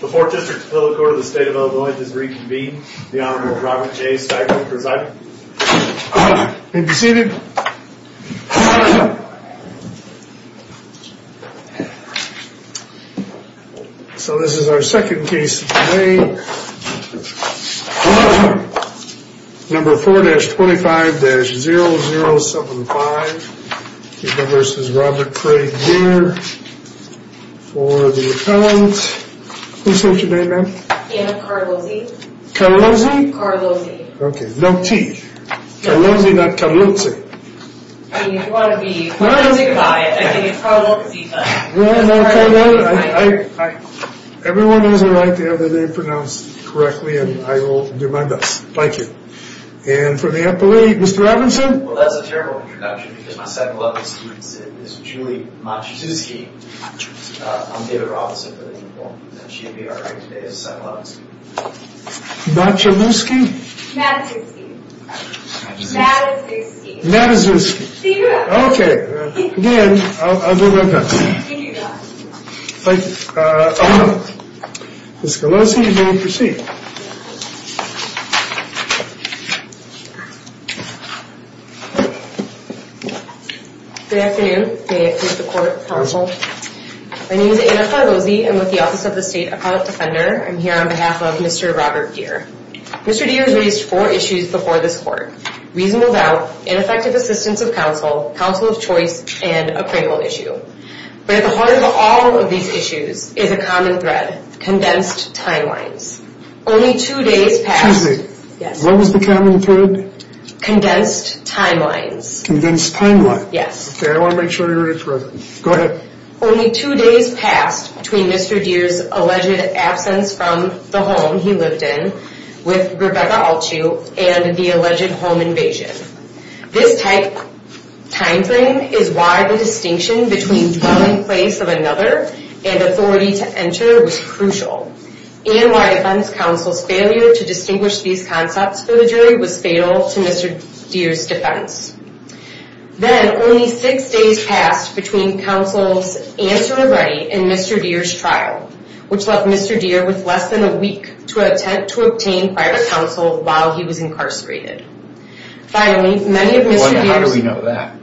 The 4th District Appeal Court of the State of Illinois is reconvened. The Honorable Robert J. Stiglitz presiding. You may be seated. So this is our second case of the day. Number 4-25-0075. Remember, this is Robert Craig here for the appellant. Who said your name, ma'am? Yeah, Carlozzi. Carlozzi? Carlozzi. Okay, no T. Carlozzi, not Carlozzi. I mean, if you want to be Carlozzi, you can buy it. I think it's Carlozzi, but... No, no, Carlozzi, I... Everyone knows I write the other name pronounced correctly, and I will do my best. Thank you. And for the appellate, Mr. Robinson? Well, that's a terrible introduction, because my second-level student is Julie Matuszewski. I'm David Robinson for the appellant, and she will be our second-level student. Matuszewski? Matuszewski. Matuszewski. Matuszewski. Matuszewski. See you around. Okay, again, I'll do my best. You do your best. Thank you. Ms. Carlozzi, you may proceed. Good afternoon. May I please the court, counsel? My name is Anna Carlozzi. I'm with the Office of the State Appellate Defender. I'm here on behalf of Mr. Robert Deere. Mr. Deere has raised four issues before this court. Reasonable doubt, ineffective assistance of counsel, counsel of choice, and a criminal issue. But at the heart of all of these issues is a common thread, condensed timelines. Only two days past... Excuse me. Yes. What was the common thread? Condensed timelines. Condensed timelines. Yes. Okay, I want to make sure you're ready for it. Go ahead. Only two days past between Mr. Deere's alleged absence from the home he lived in with Rebecca Altschuh and the alleged home invasion. This time frame is why the distinction between dwelling place of another and authority to enter was crucial. And why defense counsel's failure to distinguish these concepts for the jury was fatal to Mr. Deere's defense. Then, only six days passed between counsel's answer to Reddy and Mr. Deere's trial, which left Mr. Deere with less than a week to attempt to obtain private counsel while he was incarcerated. Finally, many of Mr. Deere's... How do we know that?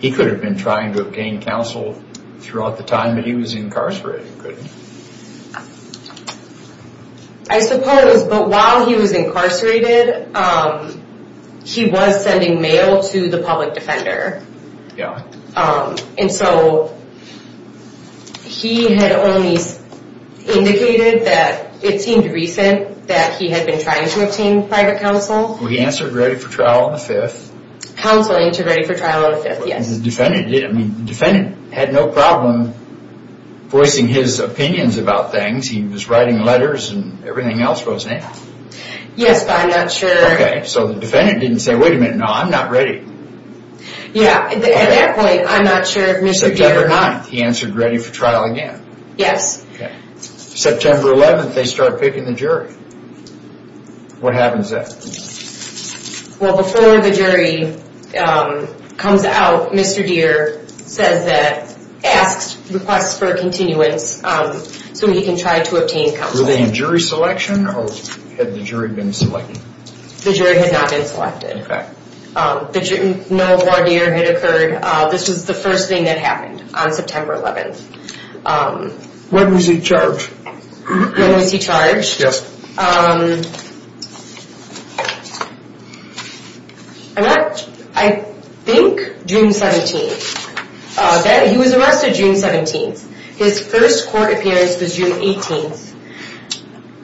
He could have been trying to obtain counsel throughout the time that he was incarcerated, couldn't he? I suppose, but while he was incarcerated, he was sending mail to the public defender. Yeah. And so, he had only indicated that it seemed recent that he had been trying to obtain private counsel. Well, he answered Reddy for trial on the 5th. Counseling to Reddy for trial on the 5th, yes. And the defendant had no problem voicing his opinions about things. He was writing letters and everything else goes in. Yes, but I'm not sure... Okay, so the defendant didn't say, wait a minute, no, I'm not ready. Yeah, at that point, I'm not sure if Mr. Deere... September 9th, he answered Reddy for trial again. Yes. September 11th, they start picking the jury. What happens then? Well, before the jury comes out, Mr. Deere says that, asks, requests for a continuance so he can try to obtain counsel. Was there a jury selection or had the jury been selected? The jury had not been selected. No more Deere had occurred. This was the first thing that happened on September 11th. When was he charged? When was he charged? Yes. I think June 17th. He was arrested June 17th. His first court appearance was June 18th.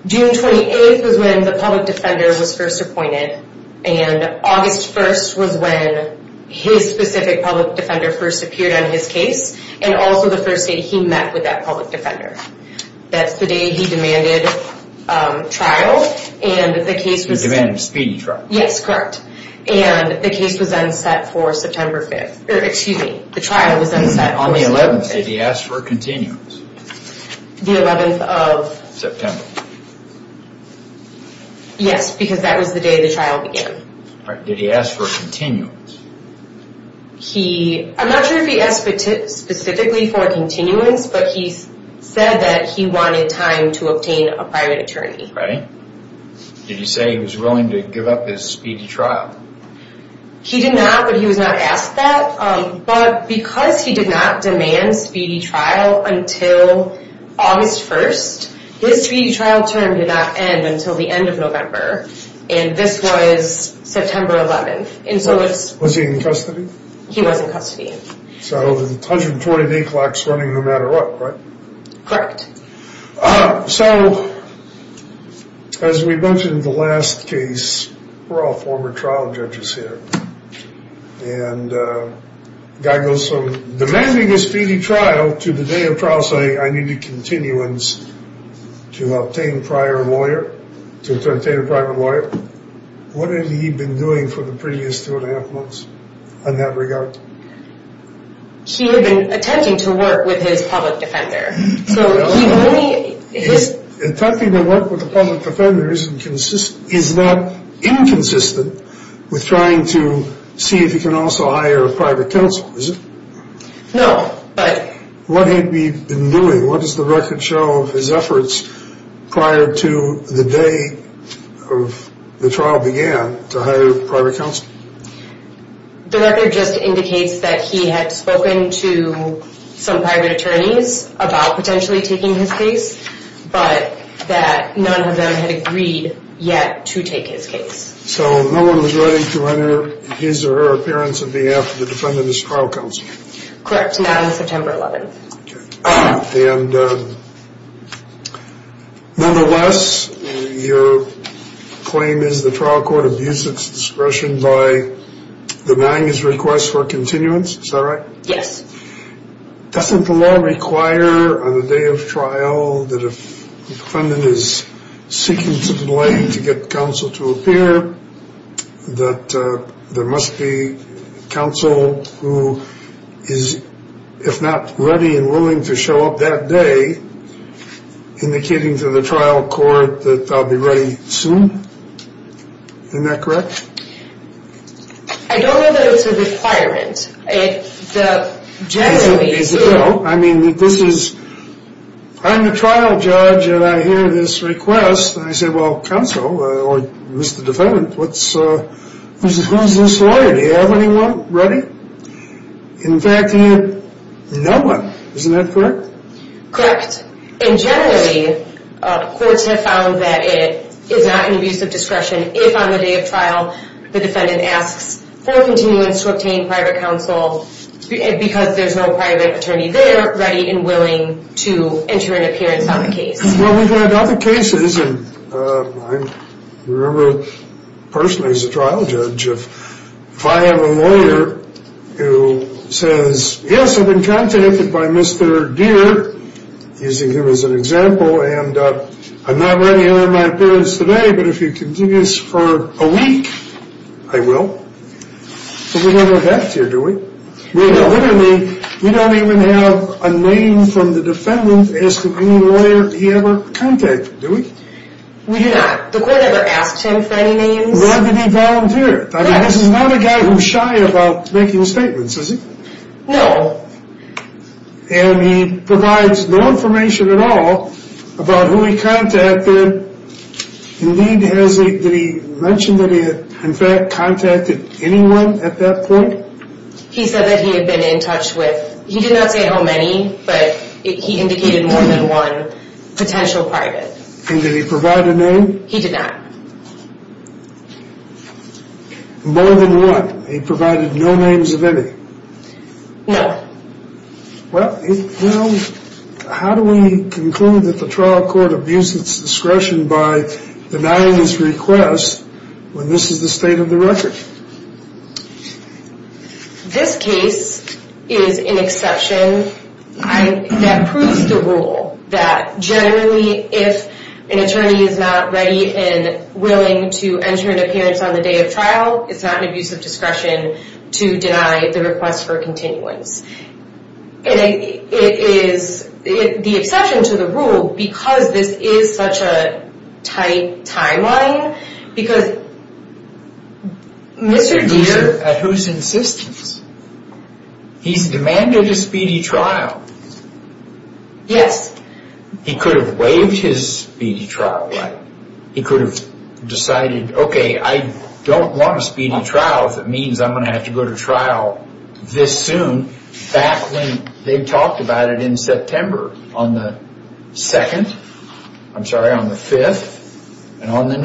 June 28th was when the public defender was first appointed. And August 1st was when his specific public defender first appeared on his case. And also the first day he met with that public defender. That's the day he demanded trial. And the case was... He demanded a speedy trial. Yes, correct. And the case was then set for September 5th. Excuse me, the trial was then set for September 5th. On the 11th, did he ask for a continuance? The 11th of... Yes, because that was the day the trial began. Did he ask for a continuance? He... I'm not sure if he asked specifically for a continuance, but he said that he wanted time to obtain a private attorney. Right. Did he say he was willing to give up his speedy trial? He did not, but he was not asked that. But because he did not demand speedy trial until August 1st, his speedy trial term did not end until the end of November. And this was September 11th. Was he in custody? He was in custody. So, 128 o'clock is running no matter what, right? Correct. So, as we mentioned in the last case, we're all former trial judges here. And the guy goes from demanding his speedy trial to the day of trial saying, I need a continuance to obtain a private lawyer. What had he been doing for the previous two and a half months in that regard? He had been attempting to work with his public defender. So, he only... Attempting to work with a public defender is not inconsistent with trying to see if he can also hire a private counsel, is it? No, but... What had he been doing? What does the record show of his efforts prior to the day of the trial began to hire a private counsel? The record just indicates that he had spoken to some private attorneys about potentially taking his case, but that none of them had agreed yet to take his case. So, no one was ready to enter his or her appearance on behalf of the defendant as trial counsel? Correct, not on September 11th. Okay. And, nevertheless, your claim is the trial court abused its discretion by denying his request for a continuance, is that right? Yes. Doesn't the law require on the day of trial that if the defendant is seeking to delay to get counsel to appear, that there must be counsel who is, if not ready and willing to show up that day, indicating to the trial court that I'll be ready soon? Isn't that correct? I don't know that it's a requirement. Generally... I mean, this is... I'm the trial judge and I hear this request, and I say, well, counsel, or Mr. Defendant, who's this lawyer? Do you have anyone ready? In fact, he had no one. Isn't that correct? Correct. And generally, courts have found that it is not an abuse of discretion if on the day of trial the defendant asks for a continuance to obtain private counsel because there's no private attorney there ready and willing to enter an appearance on the case. Well, we've had other cases, and I remember personally as a trial judge, if I have a lawyer who says, yes, I've been contacted by Mr. Deere, using him as an example, and I'm not ready to enter my appearance today, but if you continue this for a week, I will. But we don't have that here, do we? No. No, literally, we don't even have a name from the defendant asking any lawyer he ever contacted, do we? We do not. The court never asked him for any names. Nor did he volunteer. Correct. I mean, this is not a guy who's shy about making statements, is he? No. And he provides no information at all about who he contacted. Indeed, did he mention that he had, in fact, contacted anyone at that point? He said that he had been in touch with, he did not say how many, but he indicated more than one potential private. And did he provide a name? He did not. More than one? He provided no names of any? No. Well, how do we conclude that the trial court abused its discretion by denying this request when this is the state of the record? This case is an exception that proves the rule that generally, if an attorney is not ready and willing to enter into appearance on the day of trial, it's not an abuse of discretion to deny the request for continuance. And it is the exception to the rule because this is such a tight timeline, because Mr. Deere. At whose insistence? He's demanded a speedy trial. Yes. He could have waived his speedy trial right. He could have decided, okay, I don't want a speedy trial. If it means I'm going to have to go to trial this soon, back when they talked about it in September, on the 2nd, I'm sorry, on the 5th, and on the 9th.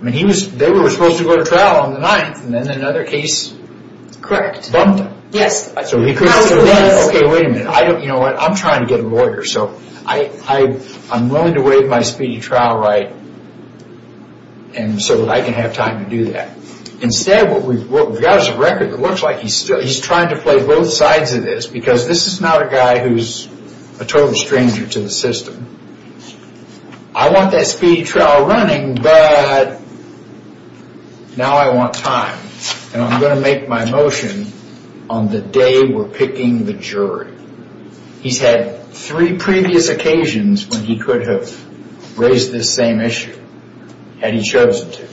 I mean, they were supposed to go to trial on the 9th, and then another case bumped them. Yes. Okay, wait a minute. You know what? I'm trying to get a lawyer, so I'm willing to waive my speedy trial right and so that I can have time to do that. Instead, what we've got is a record that looks like he's trying to play both sides of this, because this is not a guy who's a total stranger to the system. I want that speedy trial running, but now I want time. And I'm going to make my motion on the day we're picking the jury. He's had three previous occasions when he could have raised this same issue, had he chosen to.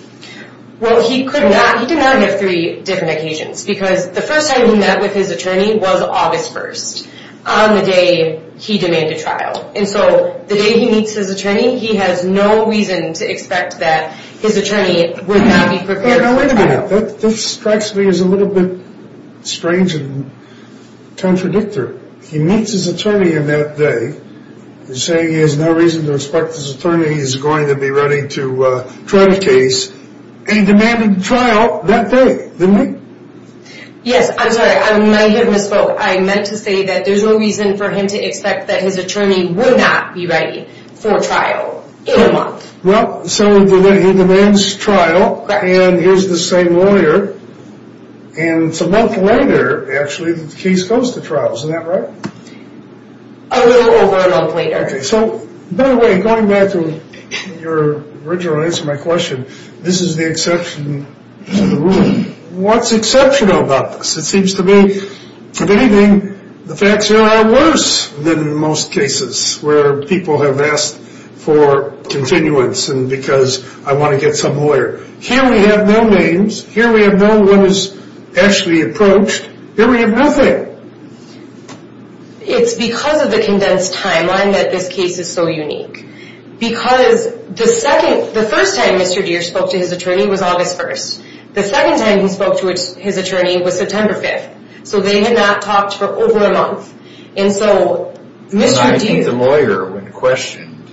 Well, he could not. He did not have three different occasions, because the first time he met with his attorney was August 1st, on the day he demanded trial. And so the day he meets his attorney, he has no reason to expect that his attorney would not be prepared for trial. Wait a minute. This strikes me as a little bit strange and contradictory. He meets his attorney on that day, saying he has no reason to expect his attorney is going to be ready to try the case. He demanded trial that day, didn't he? Yes. I'm sorry. I might have misspoke. I meant to say that there's no reason for him to expect that his attorney would not be ready for trial in a month. Well, so he demands trial. And here's the same lawyer. And it's a month later, actually, that the case goes to trial. Isn't that right? A little over a month later. Okay. So, by the way, going back to your original answer to my question, this is the exception to the rule. What's exceptional about this? It seems to me, if anything, the facts here are worse than in most cases, where people have asked for continuance and because I want to get some lawyer. Here we have no names. Here we have no one who's actually approached. Here we have nothing. It's because of the condensed timeline that this case is so unique. Because the first time Mr. Deere spoke to his attorney was August 1st. The second time he spoke to his attorney was September 5th. So they had not talked for over a month. I think the lawyer, when questioned,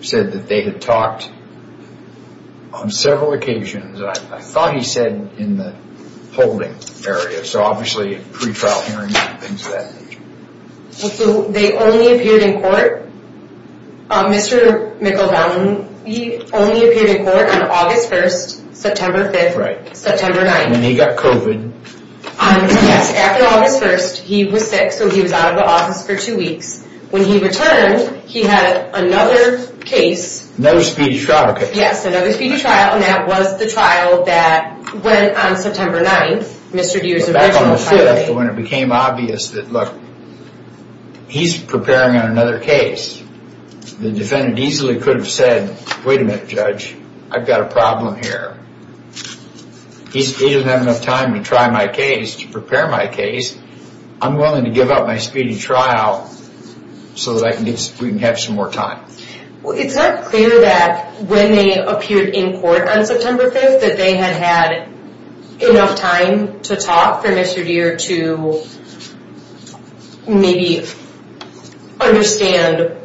said that they had talked on several occasions. I thought he said in the holding area. So, obviously, pre-trial hearings and things of that nature. They only appeared in court. Mr. McElvine, he only appeared in court on August 1st, September 5th, September 9th. And he got COVID. Yes, after August 1st, he was sick. So he was out of the office for two weeks. When he returned, he had another case. Another speedy trial case. Yes, another speedy trial. And that was the trial that went on September 9th, Mr. Deere's original trial date. But back on the 5th, when it became obvious that, look, he's preparing on another case, the defendant easily could have said, wait a minute, judge, I've got a problem here. He doesn't have enough time to try my case, to prepare my case. I'm willing to give up my speedy trial so that we can have some more time. It's not clear that when they appeared in court on September 5th that they had had enough time to talk for Mr. Deere to maybe understand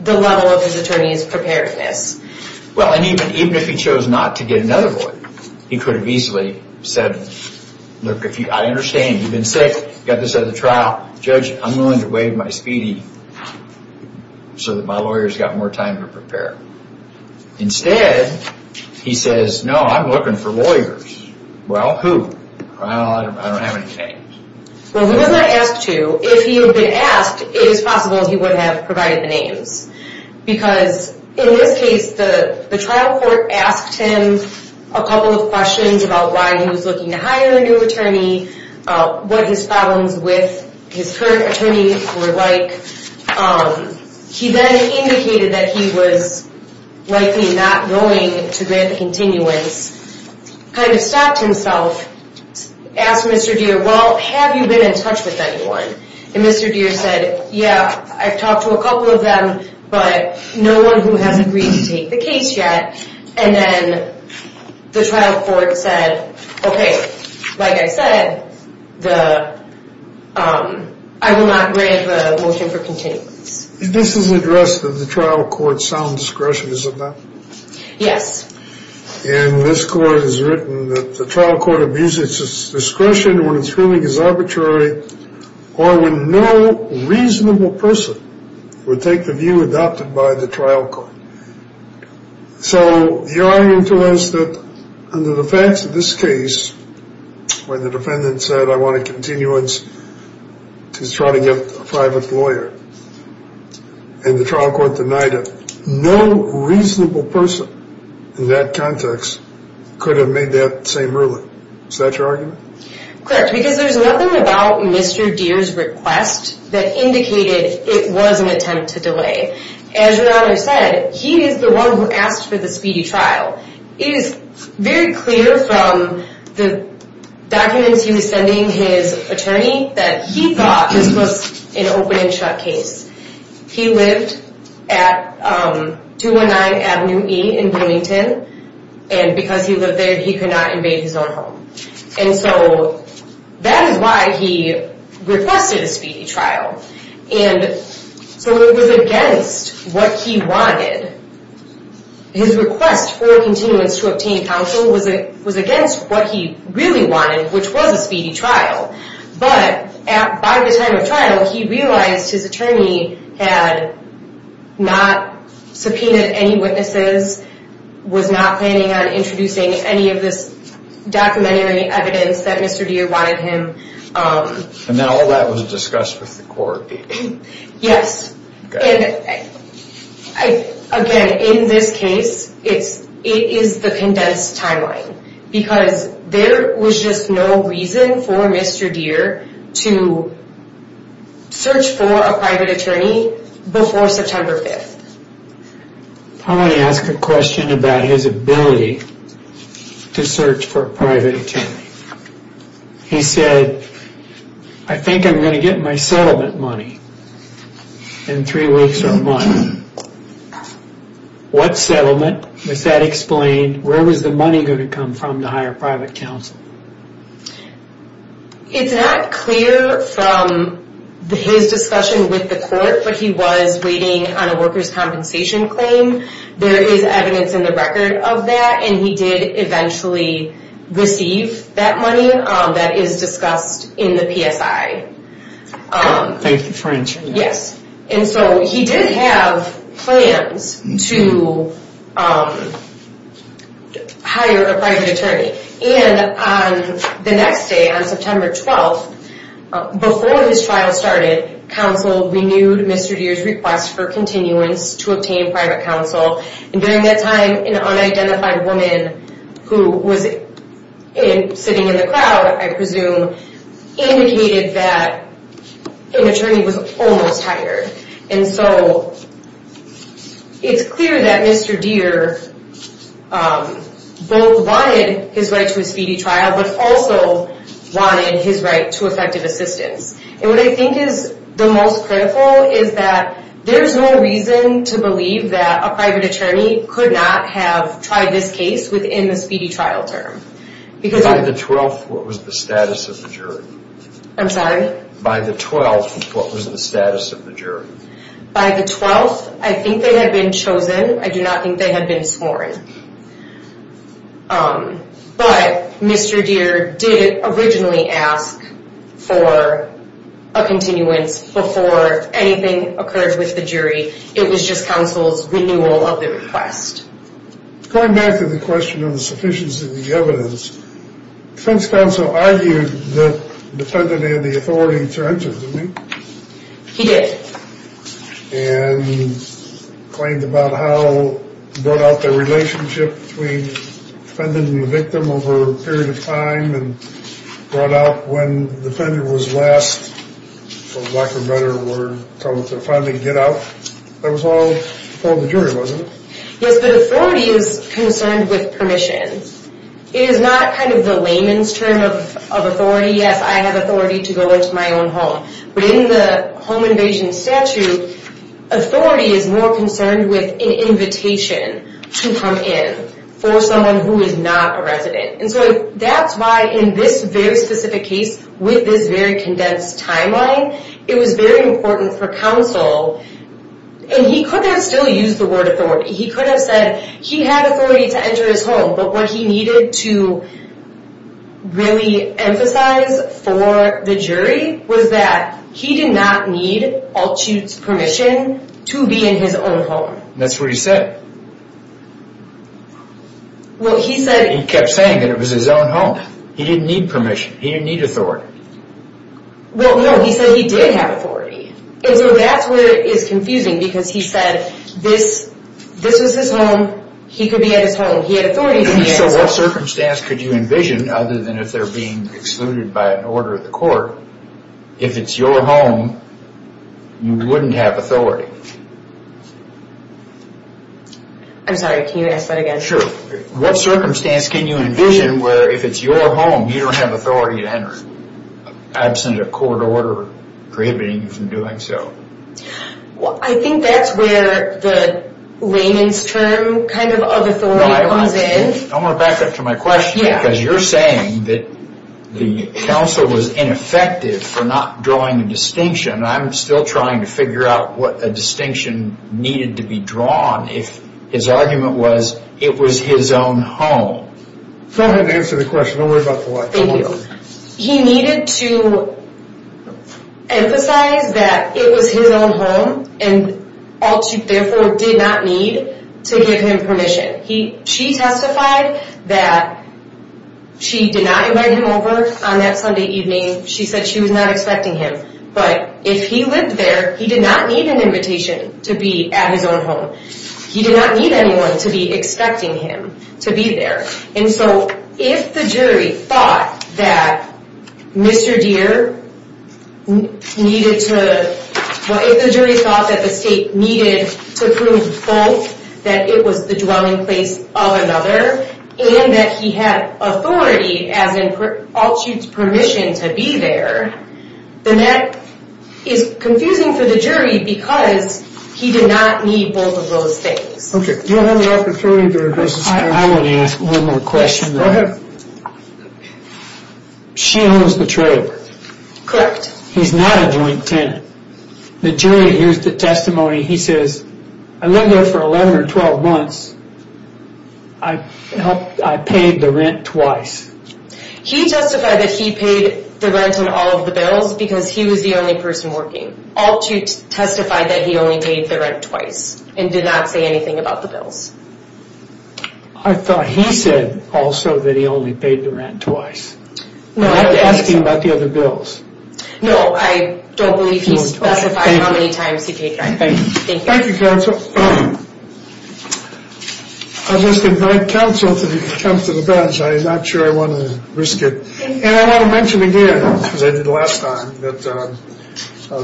the level of his attorney's preparedness. Well, and even if he chose not to get another lawyer, he could have easily said, look, I understand. You've been sick. You've got this other trial. Judge, I'm willing to waive my speedy so that my lawyer's got more time to prepare. Instead, he says, no, I'm looking for lawyers. Well, who? Well, I don't have any names. Well, he was not asked to. If he had been asked, it is possible he would have provided the names. Because in this case, the trial court asked him a couple of questions about why he was looking to hire a new attorney, what his problems with his current attorney were like. He then indicated that he was likely not going to grant the continuance, kind of stopped himself, asked Mr. Deere, well, have you been in touch with anyone? And Mr. Deere said, yeah, I've talked to a couple of them, but no one who has agreed to take the case yet. And then the trial court said, okay, like I said, I will not grant the motion for continuance. This is addressed in the trial court's sound discretion, is it not? Yes. And this court has written that the trial court abuses its discretion when its feeling is arbitrary or when no reasonable person would take the view adopted by the trial court. So the argument to us that under the facts of this case, when the defendant said I want a continuance to try to get a private lawyer, and the trial court denied it, no reasonable person in that context could have made that same ruling. Is that your argument? Correct, because there's nothing about Mr. Deere's request that indicated it was an attempt to delay. As your Honor said, he is the one who asked for the speedy trial. It is very clear from the documents he was sending his attorney that he thought this was an open and shut case. He lived at 219 Avenue E in Bloomington, and because he lived there, he could not invade his own home. And so that is why he requested a speedy trial. And so it was against what he wanted. His request for a continuance to obtain counsel was against what he really wanted, which was a speedy trial. But by the time of trial, he realized his attorney had not subpoenaed any witnesses, was not planning on introducing any of this documentary evidence that Mr. Deere wanted him. And now all that was discussed with the court. Yes. Again, in this case, it is the condensed timeline. Because there was just no reason for Mr. Deere to search for a private attorney before September 5th. I want to ask a question about his ability to search for a private attorney. He said, I think I'm going to get my settlement money in three weeks or a month. What settlement? Was that explained? Where was the money going to come from to hire private counsel? It's not clear from his discussion with the court, but he was waiting on a worker's compensation claim. There is evidence in the record of that, and he did eventually receive that money. That is discussed in the PSI. Thank you for answering that. Yes. And so he did have plans to hire a private attorney. And the next day, on September 12th, before his trial started, counsel renewed Mr. Deere's request for continuance to obtain private counsel. And during that time, an unidentified woman who was sitting in the crowd, I presume, indicated that an attorney was almost hired. And so it's clear that Mr. Deere both wanted his right to a speedy trial, but also wanted his right to effective assistance. And what I think is the most critical is that there's no reason to believe that a private attorney could not have tried this case within the speedy trial term. By the 12th, what was the status of the jury? I'm sorry? By the 12th, what was the status of the jury? By the 12th, I think they had been chosen. I do not think they had been sworn. But Mr. Deere did originally ask for a continuance before anything occurred with the jury. It was just counsel's renewal of the request. Going back to the question of the sufficiency of the evidence, defense counsel argued that the defendant had the authority to enter, didn't he? He did. And claimed about how he brought out the relationship between the defendant and the victim over a period of time, and brought out when the defendant was last, for lack of a better word, coming to finally get out. That was all before the jury, wasn't it? Yes, but authority is concerned with permission. It is not kind of the layman's term of authority. Yes, I have authority to go into my own home. But in the home invasion statute, authority is more concerned with an invitation to come in for someone who is not a resident. And so that's why in this very specific case, with this very condensed timeline, it was very important for counsel, and he could have still used the word authority. He could have said he had authority to enter his home, but what he needed to really emphasize for the jury was that he did not need Altuch's permission to be in his own home. That's what he said. Well, he said... He kept saying that it was his own home. He didn't need permission. He didn't need authority. Well, no, he said he did have authority. And so that's where it is confusing, because he said this was his home, he could be at his home, he had authority to be at his home. So what circumstance could you envision, other than if they're being excluded by an order of the court, if it's your home, you wouldn't have authority? I'm sorry, can you ask that again? Sure. What circumstance can you envision where if it's your home, you don't have authority to enter, absent a court order prohibiting you from doing so? I think that's where the layman's term kind of authority comes in. I want to back up to my question, because you're saying that the counsel was ineffective for not drawing a distinction. I'm still trying to figure out what a distinction needed to be drawn if his argument was it was his own home. Go ahead and answer the question. Don't worry about the watch. He needed to emphasize that it was his own home, and therefore did not need to give him permission. She testified that she did not invite him over on that Sunday evening. She said she was not expecting him. But if he lived there, he did not need an invitation to be at his own home. He did not need anyone to be expecting him to be there. And so if the jury thought that Mr. Deere needed to, if the jury thought that the state needed to prove both, that it was the dwelling place of another, and that he had authority, as in all chutes, permission to be there, then that is confusing for the jury, because he did not need both of those things. I want to ask one more question. Go ahead. She owns the trailer. Correct. He's not a joint tenant. The jury hears the testimony. He says, I lived there for 11 or 12 months. I paid the rent twice. He testified that he paid the rent on all of the bills because he was the only person working. All two testified that he only paid the rent twice and did not say anything about the bills. I thought he said also that he only paid the rent twice. I was asking about the other bills. No, I don't believe he specified how many times he paid the rent. Thank you. Thank you, counsel. I'll just invite counsel to come to the bench. I'm not sure I want to risk it. And I want to mention again, as I did last time, that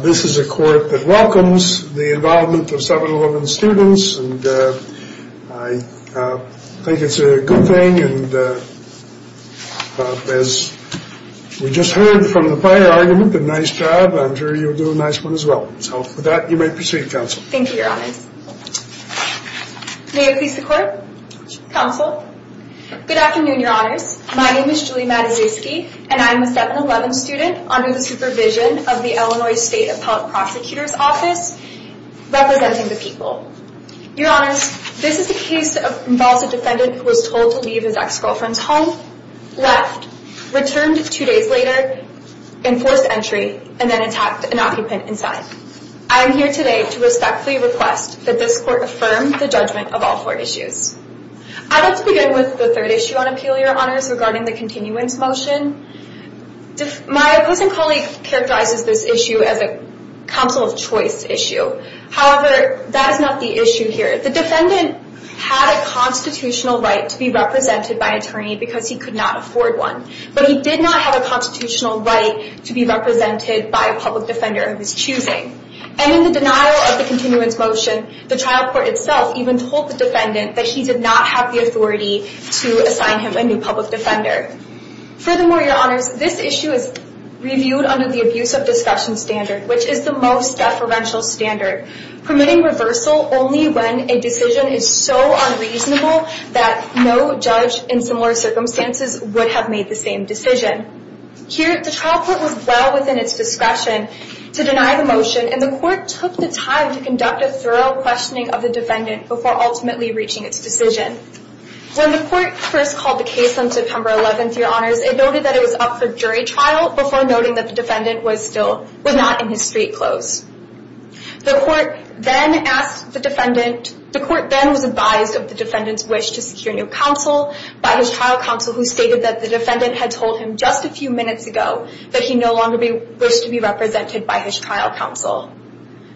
this is a court that welcomes the involvement of 7-Eleven students. And I think it's a good thing. And as we just heard from the prior argument, a nice job. I'm sure you'll do a nice one as well. So with that, you may proceed, counsel. Thank you, Your Honors. May it please the Court? Counsel. Good afternoon, Your Honors. My name is Julie Matuszewski, and I'm a 7-Eleven student under the supervision of the Illinois State Appellate Prosecutor's Office, representing the people. Your Honors, this is a case that involves a defendant who was told to leave his ex-girlfriend's home, left, returned two days later, enforced entry, and then attacked an occupant inside. I am here today to respectfully request that this Court affirm the judgment of all four issues. I'd like to begin with the third issue on appeal, Your Honors, regarding the continuance motion. My opposing colleague characterizes this issue as a counsel of choice issue. However, that is not the issue here. The defendant had a constitutional right to be represented by an attorney because he could not afford one. But he did not have a constitutional right to be represented by a public defender of his choosing. And in the denial of the continuance motion, the trial court itself even told the defendant that he did not have the authority to assign him a new public defender. Furthermore, Your Honors, this issue is reviewed under the abuse of discretion standard, which is the most deferential standard, permitting reversal only when a decision is so unreasonable that no judge in similar circumstances would have made the same decision. Here, the trial court was well within its discretion to deny the motion, and the court took the time to conduct a thorough questioning of the defendant before ultimately reaching its decision. When the court first called the case on September 11th, Your Honors, it noted that it was up for jury trial before noting that the defendant was not in his street clothes. The court then was advised of the defendant's wish to secure new counsel by his trial counsel, who stated that the defendant had told him just a few minutes ago that he no longer wished to be represented by his trial counsel.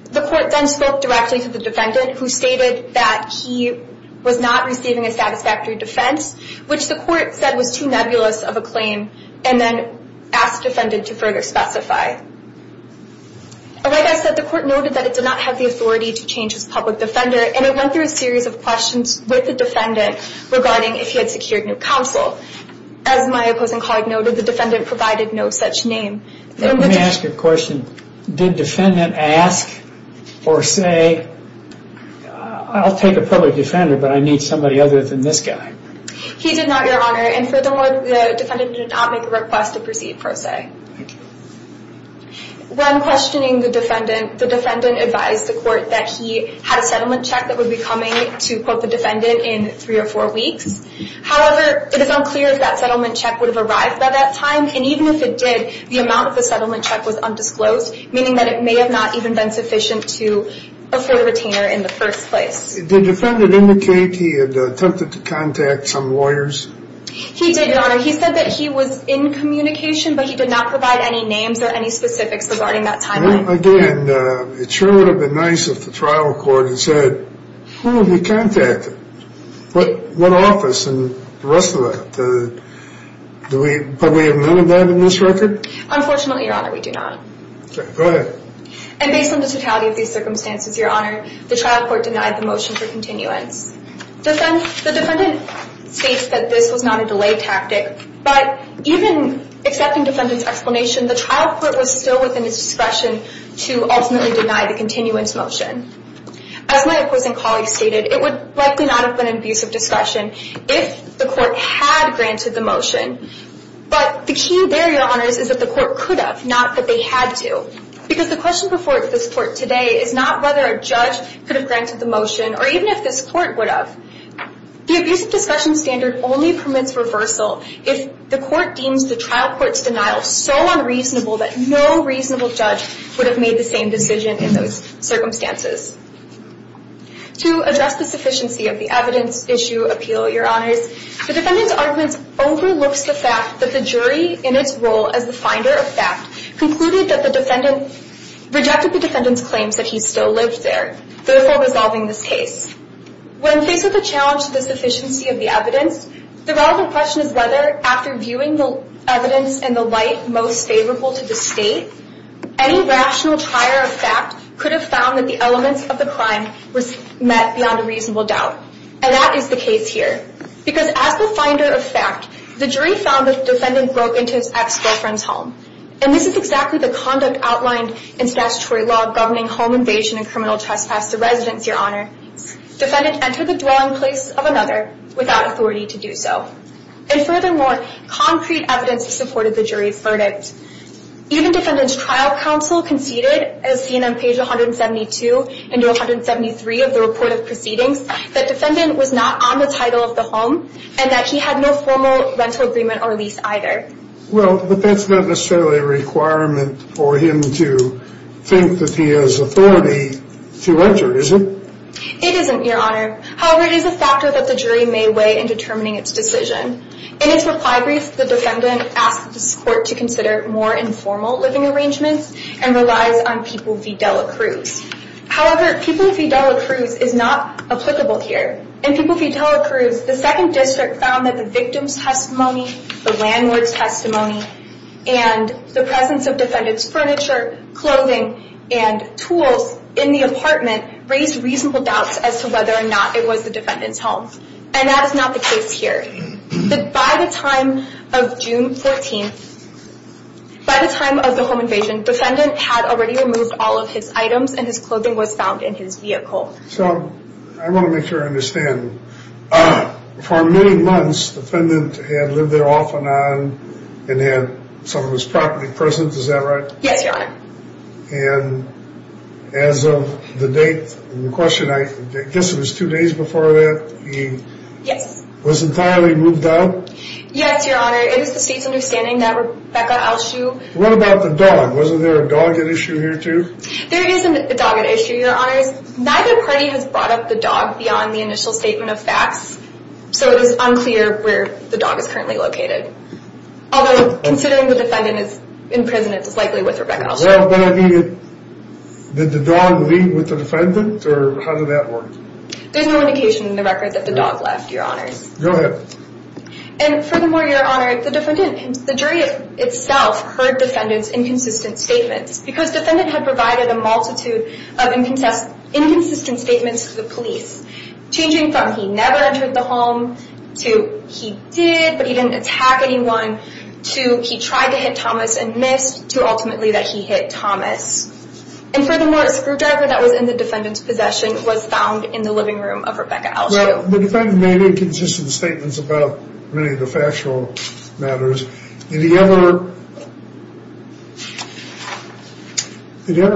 The court then spoke directly to the defendant, who stated that he was not receiving a satisfactory defense, which the court said was too nebulous of a claim, and then asked the defendant to further specify. Like I said, the court noted that it did not have the authority to change his public defender, and it went through a series of questions with the defendant regarding if he had secured new counsel. As my opposing colleague noted, the defendant provided no such name. Let me ask you a question. Did the defendant ask or say, I'll take a public defender, but I need somebody other than this guy? He did not, Your Honor, and furthermore, the defendant did not make a request to proceed per se. When questioning the defendant, the defendant advised the court that he had a settlement check that would be coming to quote the defendant in three or four weeks. However, it is unclear if that settlement check would have arrived by that time, and even if it did, the amount of the settlement check was undisclosed, meaning that it may have not even been sufficient to afford a retainer in the first place. Did the defendant indicate he had attempted to contact some lawyers? He did, Your Honor. He said that he was in communication, but he did not provide any names or any specifics regarding that timeline. Again, it sure would have been nice if the trial court had said, who have you contacted? What office and the rest of it? Do we probably have none of that in this record? Unfortunately, Your Honor, we do not. Okay, go ahead. And based on the totality of these circumstances, Your Honor, the trial court denied the motion for continuance. The defendant states that this was not a delay tactic, but even accepting the defendant's explanation, the trial court was still within its discretion to ultimately deny the continuance motion. As my opposing colleague stated, it would likely not have been an abusive discussion if the court had granted the motion, but the key there, Your Honors, is that the court could have, not that they had to. Because the question before this court today is not whether a judge could have granted the motion or even if this court would have. The abusive discussion standard only permits reversal if the court deems the trial court's denial so unreasonable that no reasonable judge would have made the same decision in those circumstances. To address the sufficiency of the evidence issue appeal, Your Honors, the defendant's argument overlooks the fact that the jury in its role as the finder of fact concluded that the defendant, rejected the defendant's claims that he still lived there, therefore resolving this case. When faced with the challenge to the sufficiency of the evidence, the relevant question is whether after viewing the evidence in the light most favorable to the state, any rational trier of fact could have found that the elements of the crime were met beyond a reasonable doubt. And that is the case here. Because as the finder of fact, the jury found that the defendant broke into his ex-girlfriend's home. And this is exactly the conduct outlined in statutory law governing home invasion and criminal trespass to residence, Your Honor. Defendant entered the dwelling place of another without authority to do so. And furthermore, concrete evidence supported the jury's verdict. Even defendant's trial counsel conceded, as seen on page 172 and 173 of the report of proceedings, that defendant was not on the title of the home and that he had no formal rental agreement or lease either. Well, but that's not necessarily a requirement for him to think that he has authority to enter, is it? It isn't, Your Honor. However, it is a factor that the jury may weigh in determining its decision. In its reply brief, the defendant asked this court to consider more informal living arrangements and relies on People v. Dela Cruz. However, People v. Dela Cruz is not applicable here. In People v. Dela Cruz, the second district found that the victim's testimony, the landlord's testimony, and the presence of defendant's furniture, clothing, and tools in the apartment raised reasonable doubts as to whether or not it was the defendant's home. And that is not the case here. By the time of June 14th, by the time of the home invasion, defendant had already removed all of his items and his clothing was found in his vehicle. So, I want to make sure I understand. For many months, defendant had lived there off and on and had some of his property present, is that right? Yes, Your Honor. And as of the date in the question, I guess it was two days before that, he was entirely moved out? Yes, Your Honor. It is the state's understanding that Rebecca Alshue... What about the dog? Wasn't there a dog at issue here too? There is a dog at issue, Your Honors. Neither party has brought up the dog beyond the initial statement of facts, so it is unclear where the dog is currently located. Although, considering the defendant is in prison, it is likely with Rebecca Alshue. Did the dog leave with the defendant? Or how did that work? There's no indication in the record that the dog left, Your Honors. Go ahead. And furthermore, Your Honor, the jury itself heard defendant's inconsistent statements because defendant had provided a multitude of inconsistent statements to the police, changing from he never entered the home, to he did, but he didn't attack anyone, to he tried to hit Thomas and missed, to ultimately that he hit Thomas. And furthermore, a screwdriver that was in the defendant's possession was found in the living room of Rebecca Alshue. The defendant made inconsistent statements about many of the factual matters. Did he ever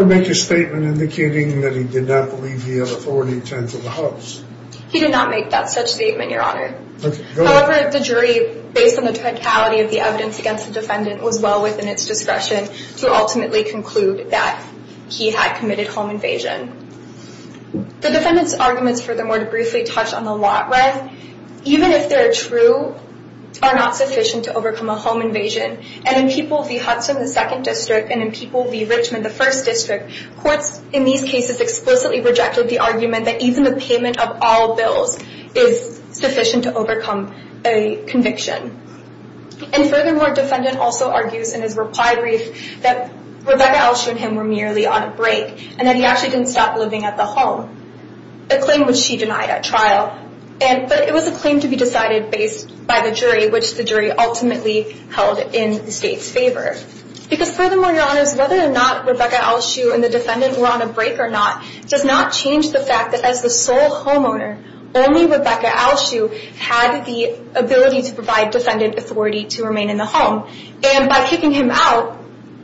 make a statement indicating that he did not believe he had authority to enter the house? He did not make that such statement, Your Honor. Okay, go ahead. However, the jury, based on the totality of the evidence against the defendant, was well within its discretion to ultimately conclude that he had committed home invasion. The defendant's arguments, furthermore, to briefly touch on the lot rent, even if they're true, are not sufficient to overcome a home invasion. And in People v. Hudson, the second district, and in People v. Richmond, the first district, courts, in these cases, explicitly rejected the argument that even the payment of all bills is sufficient to overcome a conviction. And furthermore, defendant also argues in his reply brief that Rebecca Alshue and him were merely on a break, and that he actually didn't stop living at the home, a claim which she denied at trial. But it was a claim to be decided based by the jury, which the jury ultimately held in the state's favor. Because furthermore, Your Honors, whether or not Rebecca Alshue and the defendant were on a break or not does not change the fact that as the sole homeowner, only Rebecca Alshue had the ability to provide defendant authority to remain in the home. And by kicking him out,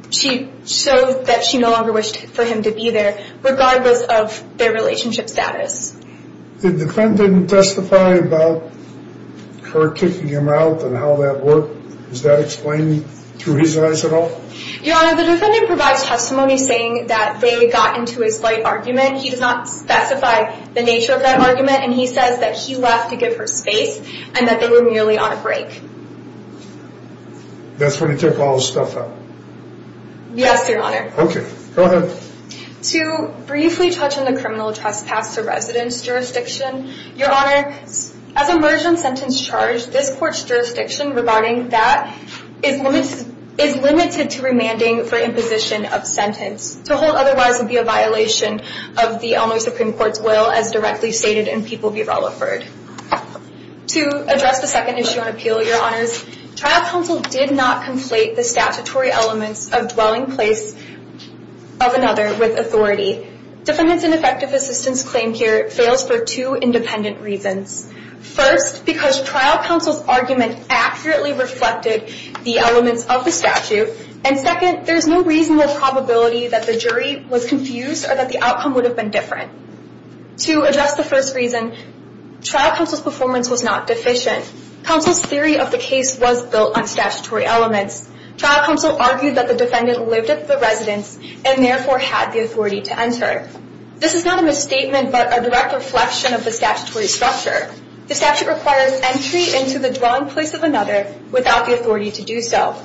she showed that she no longer wished for him to be there, regardless of their relationship status. Did the defendant testify about her kicking him out and how that worked? Is that explained through his eyes at all? Your Honor, the defendant provides testimony saying that they got into a slight argument. He does not specify the nature of that argument, and he says that he left to give her space, and that they were merely on a break. That's when he took all his stuff out? Yes, Your Honor. Okay. Go ahead. To briefly touch on the criminal trespass to residence jurisdiction, Your Honor, as a merger and sentence charge, this court's jurisdiction regarding that is limited to remanding for imposition of sentence to hold otherwise would be a violation of the Elmhurst Supreme Court's will as directly stated in People v. Rutherford. To address the second issue on appeal, Your Honors, trial counsel did not conflate the statutory elements of dwelling place of another with authority. Defendant's ineffective assistance claim here fails for two independent reasons. First, because trial counsel's argument accurately reflected the elements of the statute, and second, there's no reasonable probability that the jury was confused or that the outcome would have been different. To address the first reason, trial counsel's performance was not deficient. Counsel's theory of the case was built on statutory elements. Trial counsel argued that the defendant lived at the residence and therefore had the authority to enter. This is not a misstatement but a direct reflection of the statutory structure. The statute requires entry into the dwelling place of another without the authority to do so,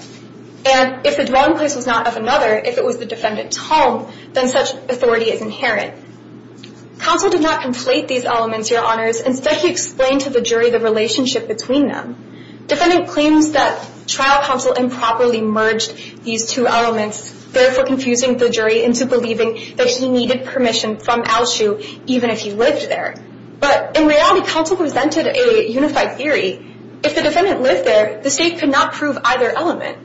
and if the dwelling place was not of another, if it was the defendant's home, then such authority is inherent. Counsel did not conflate these elements, Your Honors. Instead, he explained to the jury the relationship between them. Defendant claims that trial counsel improperly merged these two elements, therefore confusing the jury into believing that he needed permission from Alshu even if he lived there. But in reality, counsel presented a unified theory. If the defendant lived there, the state could not prove either element.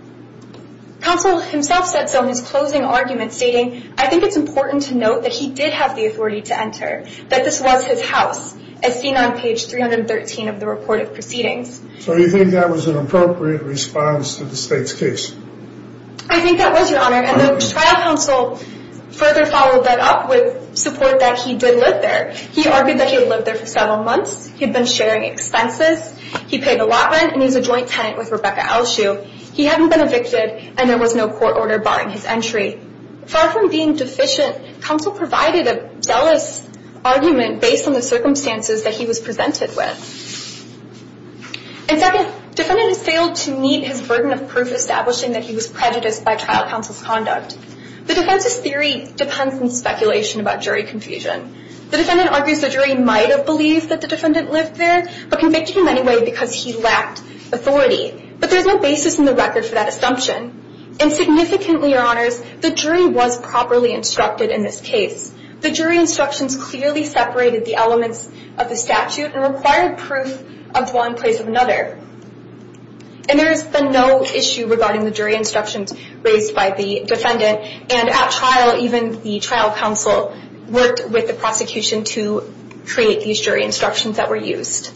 Counsel himself said so in his closing argument, stating, I think it's important to note that he did have the authority to enter, that this was his house, as seen on page 313 of the report of proceedings. So you think that was an appropriate response to the state's case? I think that was, Your Honor, and the trial counsel further followed that up with support that he did live there. He argued that he had lived there for several months, he had been sharing expenses, he paid a lot rent, and he was a joint tenant with Rebecca Alshu. He hadn't been evicted, and there was no court order barring his entry. Far from being deficient, counsel provided a zealous argument based on the circumstances that he was presented with. And second, defendant has failed to meet his burden of proof establishing that he was prejudiced by trial counsel's conduct. The defense's theory depends on speculation about jury confusion. The defendant argues the jury might have believed that the defendant lived there, but convicted him anyway because he lacked authority. But there's no basis in the record for that assumption. And significantly, Your Honors, the jury was properly instructed in this case. The jury instructions clearly separated the elements of the statute and required proof of one place or another. And there has been no issue regarding the jury instructions raised by the defendant. And at trial, even the trial counsel worked with the prosecution to create these jury instructions that were used.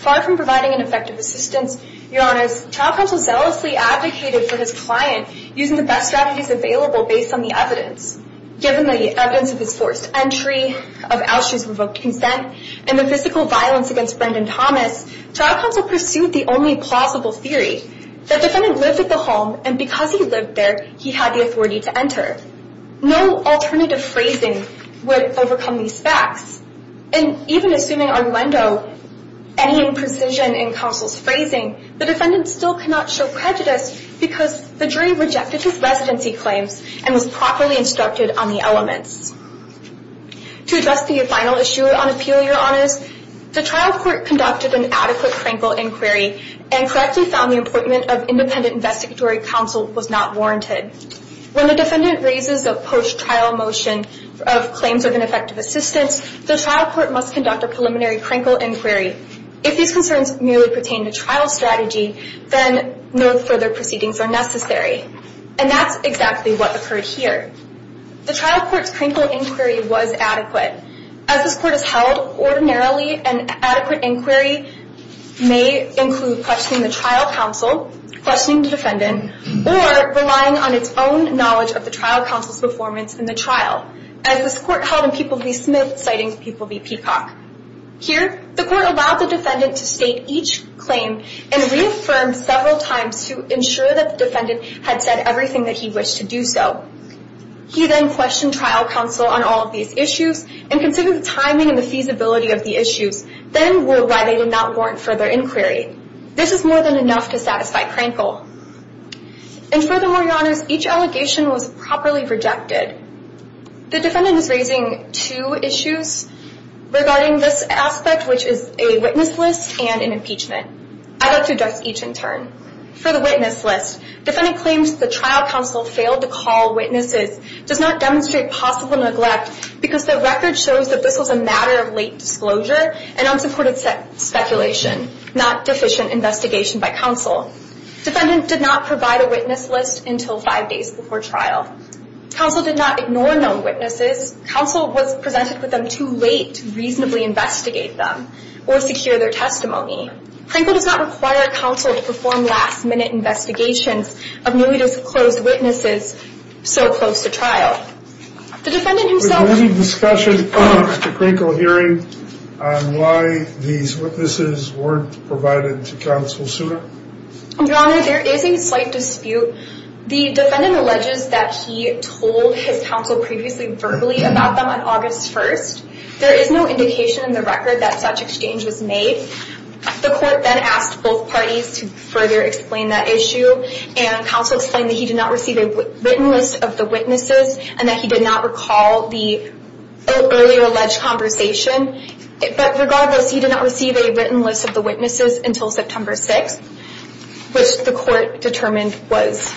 Far from providing an effective assistance, Your Honors, trial counsel zealously advocated for his client using the best strategies available based on the evidence. Given the evidence of his forced entry, of Alshu's revoked consent, and the physical violence against Brendan Thomas, trial counsel pursued the only plausible theory, that the defendant lived at the home, and because he lived there, he had the authority to enter. No alternative phrasing would overcome these facts. And even assuming Armando, any imprecision in counsel's phrasing, the defendant still cannot show prejudice because the jury rejected his residency claims and was properly instructed on the elements. To address the final issue on appeal, Your Honors, the trial court conducted an adequate crankle inquiry and correctly found the appointment of independent investigatory counsel was not warranted. When the defendant raises a post-trial motion of claims of ineffective assistance, the trial court must conduct a preliminary crankle inquiry. If these concerns merely pertain to trial strategy, then no further proceedings are necessary. And that's exactly what occurred here. The trial court's crankle inquiry was adequate. As this court is held, ordinarily an adequate inquiry may include questioning the trial counsel, questioning the defendant, or relying on its own knowledge of the trial counsel's performance in the trial. As this court held in People v. Smith, citing People v. Peacock. Here, the court allowed the defendant to state each claim and reaffirmed several times to ensure that the defendant had said everything that he wished to do so. He then questioned trial counsel on all of these issues and considered the timing and the feasibility of the issues, then why they did not warrant further inquiry. This is more than enough to satisfy crankle. And furthermore, Your Honors, each allegation was properly rejected. The defendant is raising two issues regarding this aspect, which is a witness list and an impeachment. I'd like to address each in turn. For the witness list, defendant claims the trial counsel failed to call witnesses does not demonstrate possible neglect because the record shows that this was a matter of late disclosure and unsupported speculation, not deficient investigation by counsel. Defendant did not provide a witness list until five days before trial. Counsel did not ignore known witnesses. Counsel was presented with them too late to reasonably investigate them or secure their testimony. Crankle does not require counsel to perform last-minute investigations of newly disclosed witnesses so close to trial. The defendant himself... Was there any discussion at the Crankle hearing on why these witnesses weren't provided to counsel sooner? Your Honor, there is a slight dispute. The defendant alleges that he told his counsel previously verbally about them on August 1st. There is no indication in the record that such exchange was made. The court then asked both parties to further explain that issue, and counsel explained that he did not receive a written list of the witnesses and that he did not recall the earlier alleged conversation. But regardless, he did not receive a written list of the witnesses until September 6th, which the court determined was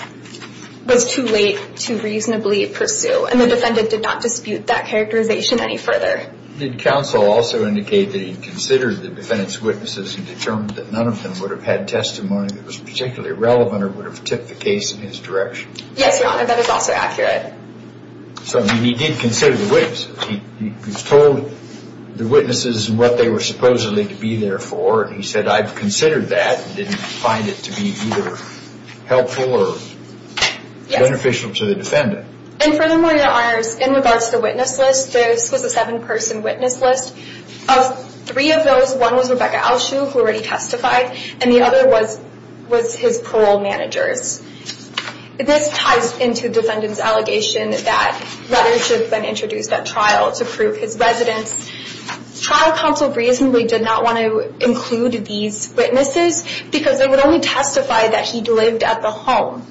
too late to reasonably pursue, and the defendant did not dispute that characterization any further. Did counsel also indicate that he considered the defendant's witnesses and determined that none of them would have had testimony that was particularly relevant or would have tipped the case in his direction? Yes, Your Honor. That is also accurate. So he did consider the witnesses. He was told the witnesses and what they were supposedly to be there for, and he said, I've considered that and didn't find it to be either helpful or beneficial to the defendant. And furthermore, Your Honors, in regards to the witness list, this was a seven-person witness list. Of three of those, one was Rebecca Alshue, who already testified, and the other was his parole managers. This ties into the defendant's allegation that letters should have been introduced at trial to prove his residence. Trial counsel reasonably did not want to include these witnesses because they would only testify that he lived at the home,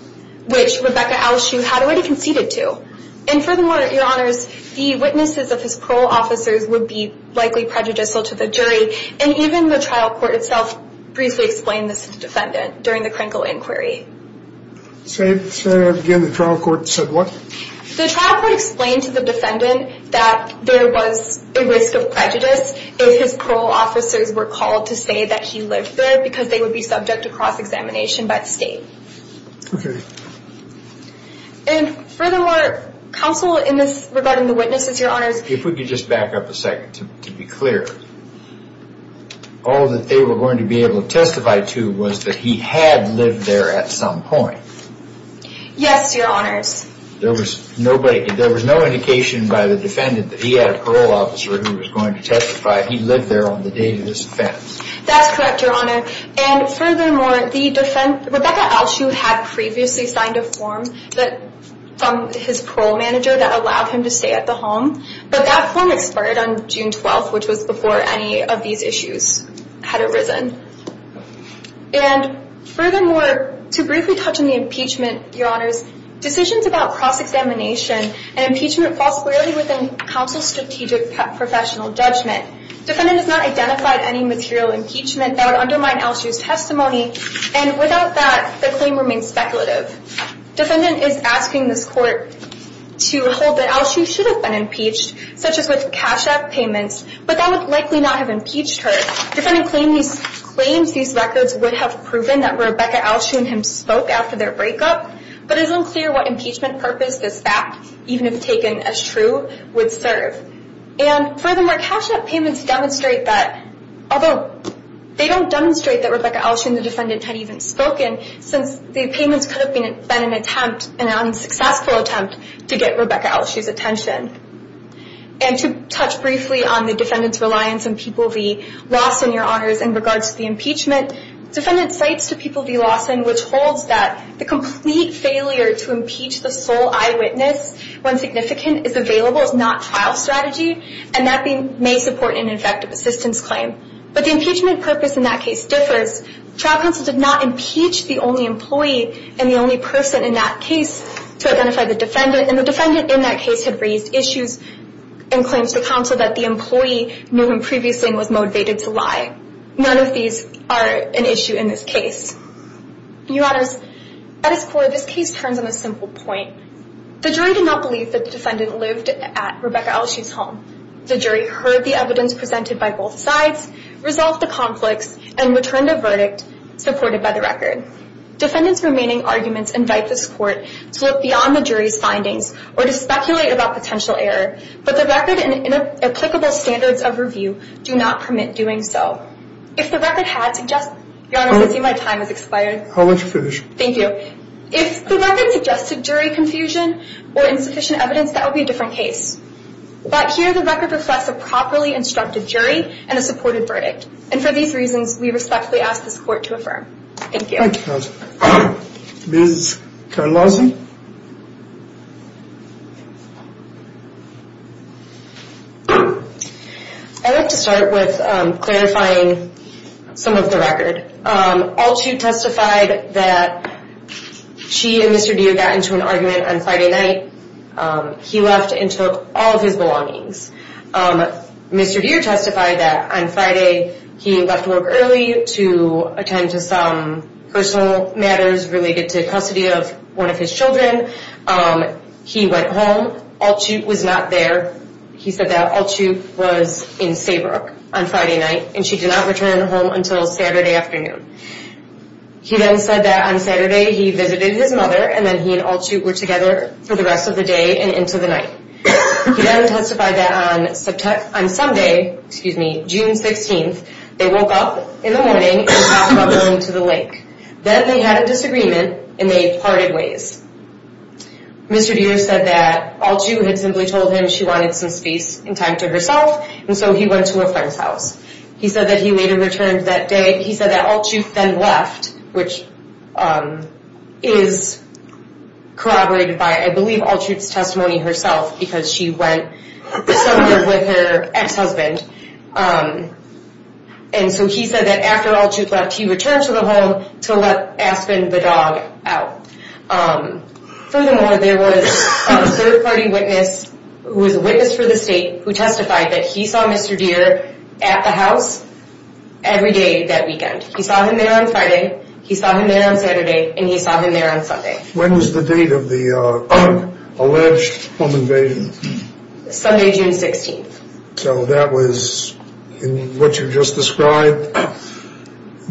which Rebecca Alshue had already conceded to. And furthermore, Your Honors, the witnesses of his parole officers would be likely prejudicial to the jury, and even the trial court itself briefly explained this to the defendant during the Krinkle inquiry. So again, the trial court said what? The trial court explained to the defendant that there was a risk of prejudice if his parole officers were called to say that he lived there because they would be subject to cross-examination by the state. And furthermore, counsel in this regarding the witnesses, Your Honors. If we could just back up a second to be clear. All that they were going to be able to testify to was that he had lived there at some point. Yes, Your Honors. There was no indication by the defendant that he had a parole officer who was going to testify if he lived there on the date of this offense. That's correct, Your Honor. And furthermore, Rebecca Alshue had previously signed a form from his parole manager that allowed him to stay at the home, but that form expired on June 12th, which was before any of these issues had arisen. And furthermore, to briefly touch on the impeachment, Your Honors. Decisions about cross-examination and impeachment fall squarely within counsel's strategic professional judgment. Defendant has not identified any material impeachment that would undermine Alshue's testimony, and without that, the claim remains speculative. Defendant is asking this court to hold that Alshue should have been impeached, such as with cash-out payments, but that would likely not have impeached her. Defendant claims these records would have proven that Rebecca Alshue and him spoke after their breakup, but it is unclear what impeachment purpose this fact, even if taken as true, would serve. And furthermore, cash-out payments demonstrate that, although they don't demonstrate that Rebecca Alshue and the defendant had even spoken, since the payments could have been an attempt, an unsuccessful attempt, to get Rebecca Alshue's attention. And to touch briefly on the defendant's reliance on People v. Lawson, Your Honors, in regards to the impeachment. Defendant cites to People v. Lawson, which holds that the complete failure to impeach the sole eyewitness when significant is available is not trial strategy, and that may support an effective assistance claim. But the impeachment purpose in that case differs. Trial counsel did not impeach the only employee and the only person in that case to identify the defendant, and the defendant in that case had raised issues and claims to counsel that the employee knew him previously and was motivated to lie. None of these are an issue in this case. Your Honors, at its core, this case turns on a simple point. The jury did not believe that the defendant lived at Rebecca Alshue's home. The jury heard the evidence presented by both sides, resolved the conflicts, and returned a verdict supported by the record. Defendant's remaining arguments invite this court to look beyond the jury's findings or to speculate about potential error, but the record and inapplicable standards of review do not permit doing so. If the record had suggested... Your Honors, I see my time has expired. I'll let you finish. Thank you. If the record suggested jury confusion or insufficient evidence, that would be a different case. But here the record reflects a properly instructed jury and a supported verdict. And for these reasons, we respectfully ask this court to affirm. Thank you. Thank you, counsel. Ms. Carlosi? I'd like to start with clarifying some of the record. Alshue testified that she and Mr. Deere got into an argument on Friday night. He left and took all of his belongings. Mr. Deere testified that on Friday he left work early to attend to some personal matters related to custody of one of his children. He went home. Alshue was not there. He said that Alshue was in Saybrook on Friday night, and she did not return home until Saturday afternoon. He then said that on Saturday he visited his mother, and then he and Alshue were together for the rest of the day and into the night. He then testified that on Sunday, June 16th, they woke up in the morning and talked about going to the lake. Then they had a disagreement, and they parted ways. Mr. Deere said that Alshue had simply told him she wanted some space and time to herself, and so he went to a friend's house. He said that he later returned that day. which is corroborated by, I believe, Alshue's testimony herself, because she went somewhere with her ex-husband. And so he said that after Alshue left, he returned to the home to let Aspen, the dog, out. Furthermore, there was a third-party witness who was a witness for the state who testified that he saw Mr. Deere at the house every day that weekend. He saw him there on Friday, he saw him there on Saturday, and he saw him there on Sunday. When was the date of the alleged home invasion? Sunday, June 16th. So that was what you just described?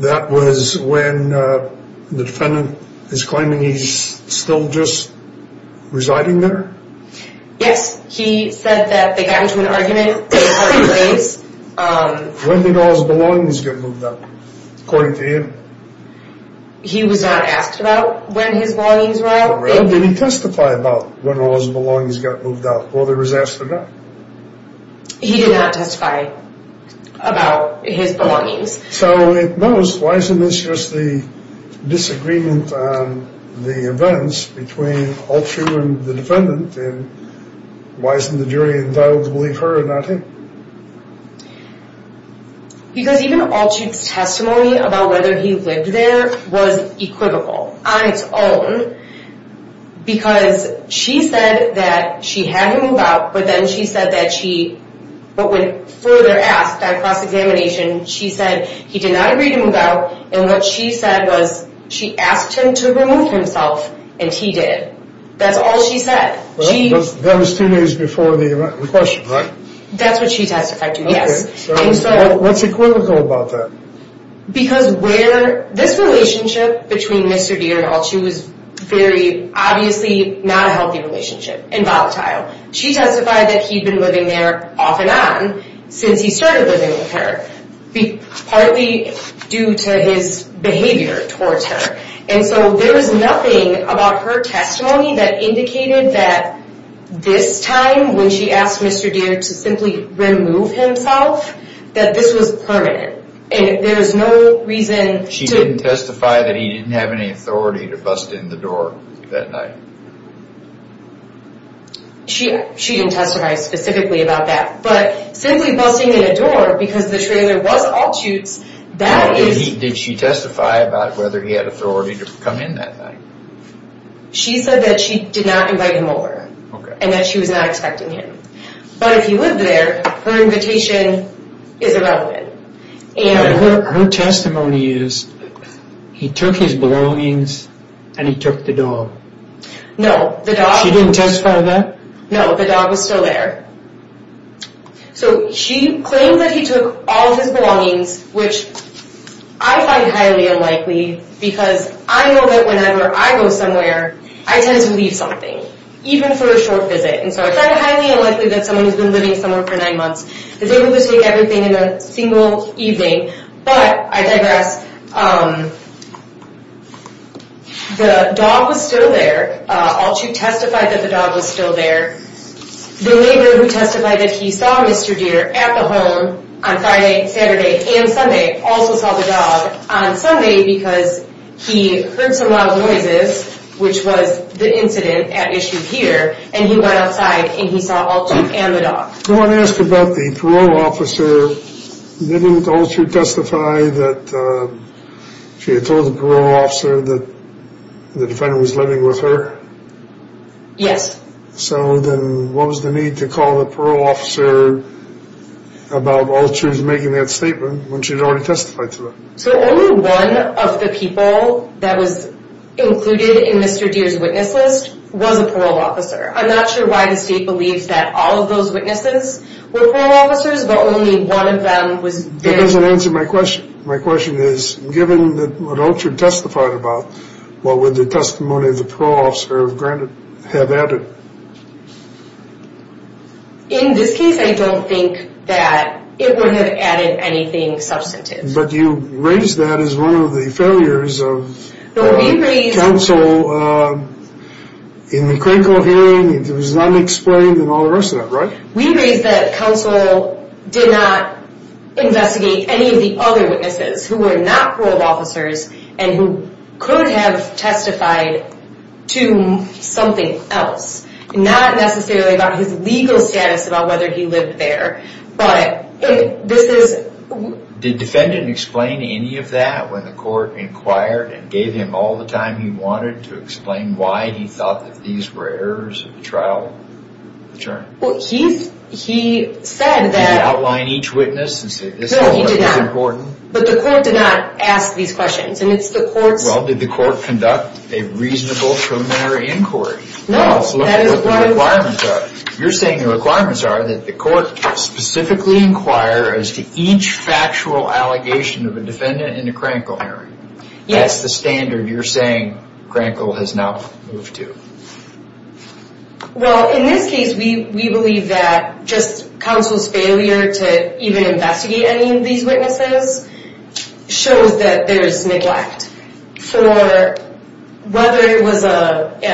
That was when the defendant is claiming he's still just residing there? Yes, he said that they got into an argument, they parted ways. When did all his belongings get moved out, according to him? He was not asked about when his belongings were out. Did he testify about when all his belongings got moved out, whether he was asked or not? He did not testify about his belongings. So at most, why isn't this just the disagreement on the events between Alshue and the defendant? And why isn't the jury entitled to believe her and not him? Because even Alshue's testimony about whether he lived there was equivocal on its own. Because she said that she had him moved out, but then she said that she, but when further asked by cross-examination, she said he did not agree to move out, and what she said was she asked him to remove himself, and he did. That's all she said. That was two days before the question, right? That's what she testified to, yes. What's equivocal about that? Because this relationship between Mr. Deere and Alshue was very obviously not a healthy relationship, and volatile. She testified that he'd been living there off and on since he started living with her, partly due to his behavior towards her. And so there was nothing about her testimony that indicated that this time, when she asked Mr. Deere to simply remove himself, that this was permanent. And there's no reason to— She didn't testify that he didn't have any authority to bust in the door that night. She didn't testify specifically about that, but simply busting in a door, because the trailer was Alshue's, that is— Did she testify about whether he had authority to come in that night? She said that she did not invite him over, and that she was not expecting him. But if he lived there, her invitation is irrelevant. Her testimony is, he took his belongings, and he took the dog. No, the dog— She didn't testify to that? No, the dog was still there. So she claimed that he took all of his belongings, which I find highly unlikely, because I know that whenever I go somewhere, I tend to leave something, even for a short visit. And so I find it highly unlikely that someone who's been living somewhere for nine months is able to take everything in a single evening. But I digress. The dog was still there. Alshue testified that the dog was still there. The neighbor who testified that he saw Mr. Deere at the home on Friday, Saturday, and Sunday also saw the dog on Sunday, because he heard some loud noises, which was the incident at issue here, and he went outside and he saw Alshue and the dog. I want to ask about the parole officer. Didn't Alshue testify that she had told the parole officer that the defendant was living with her? Yes. So then what was the need to call the parole officer about Alshue's making that statement when she had already testified to it? So only one of the people that was included in Mr. Deere's witness list was a parole officer. I'm not sure why the state believes that all of those witnesses were parole officers, but only one of them was there. That doesn't answer my question. My question is, given what Alshue testified about, what would the testimony of the parole officer have added? In this case, I don't think that it would have added anything substantive. But you raised that as one of the failures of counsel in the critical hearing. It was unexplained and all the rest of that, right? We raised that counsel did not investigate any of the other witnesses who were not parole officers and who could have testified to something else, not necessarily about his legal status, about whether he lived there, but this is... Did the defendant explain any of that when the court inquired and gave him all the time he wanted to explain why he thought that these were errors of the trial? He said that... Did he outline each witness and say, this whole thing is important? No, he did not. But the court did not ask these questions. And it's the court's... Well, did the court conduct a reasonable criminal inquiry? No, that is what... You're saying the requirements are that the court specifically inquire as to each factual allegation of a defendant in the Krankel hearing. Yes. That's the standard you're saying Krankel has now moved to. Well, in this case, we believe that just counsel's failure to even investigate any of these witnesses shows that there is neglect for whether it was an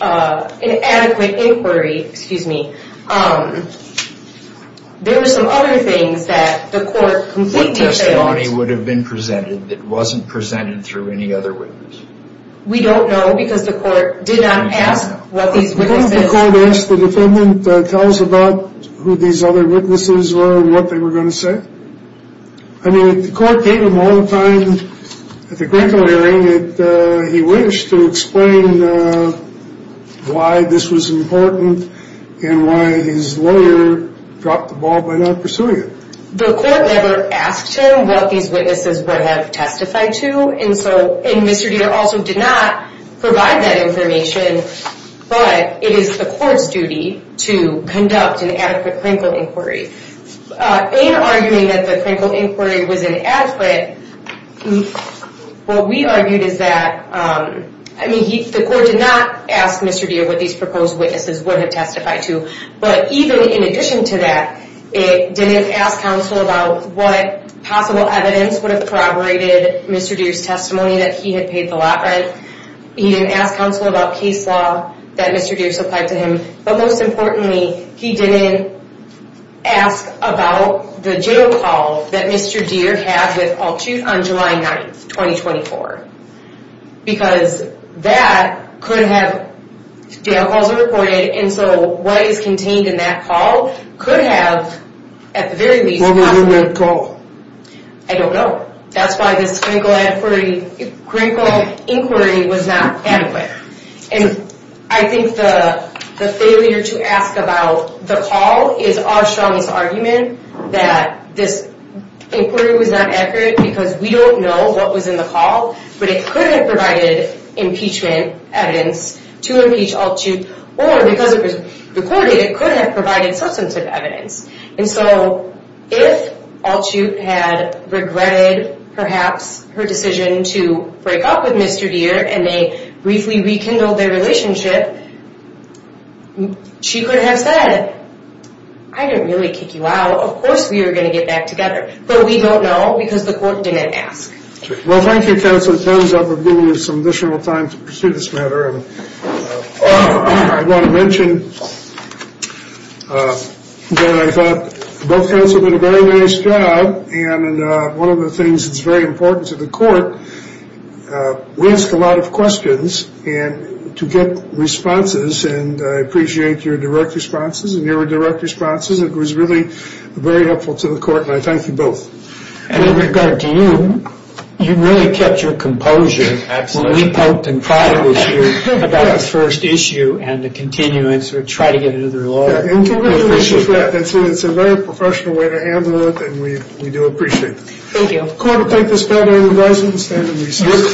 adequate inquiry, excuse me. There were some other things that the court completely failed... What testimony would have been presented that wasn't presented through any other witness? We don't know because the court did not ask what these witnesses... I mean, the court gave him all the time at the Krankel hearing that he wished to explain why this was important and why his lawyer dropped the ball by not pursuing it. The court never asked him what these witnesses would have testified to, and Mr. Deere also did not provide that information, but it is the court's duty to conduct an adequate Krankel inquiry. In arguing that the Krankel inquiry was inadequate, what we argued is that... I mean, the court did not ask Mr. Deere what these proposed witnesses would have testified to, but even in addition to that, it didn't ask counsel about what possible evidence would have corroborated Mr. Deere's testimony that he had paid the lot rent. He didn't ask counsel about case law that Mr. Deere supplied to him, but most importantly, he didn't ask about the jail call that Mr. Deere had with Paul Chute on July 9th, 2024. Because that could have... Jail calls are recorded, and so what is contained in that call could have, at the very least... I don't know. That's why this Krankel inquiry was not adequate. I think the failure to ask about the call is our strongest argument, that this inquiry was not accurate because we don't know what was in the call, but it could have provided impeachment evidence to impeach Al Chute, or because it was recorded, it could have provided substantive evidence. And so, if Al Chute had regretted, perhaps, her decision to break up with Mr. Deere, and they briefly rekindled their relationship, she could have said, I didn't really kick you out, of course we were going to get back together, but we don't know because the court didn't ask. Well, thank you, counsel. It turns out we're giving you some additional time to pursue this matter. I want to mention that I thought both counsel did a very nice job, and one of the things that's very important to the court, we ask a lot of questions, and to get responses, and I appreciate your direct responses, and your direct responses, it was really very helpful to the court, and I thank you both. And in regard to you, you really kept your composure. Absolutely. When we poked and cried at you about the first issue, and to continue and sort of try to get it under the law. And to really appreciate that. It's a very professional way to handle it, and we do appreciate it. Thank you. The court will take this matter into resolution. Stand and recess.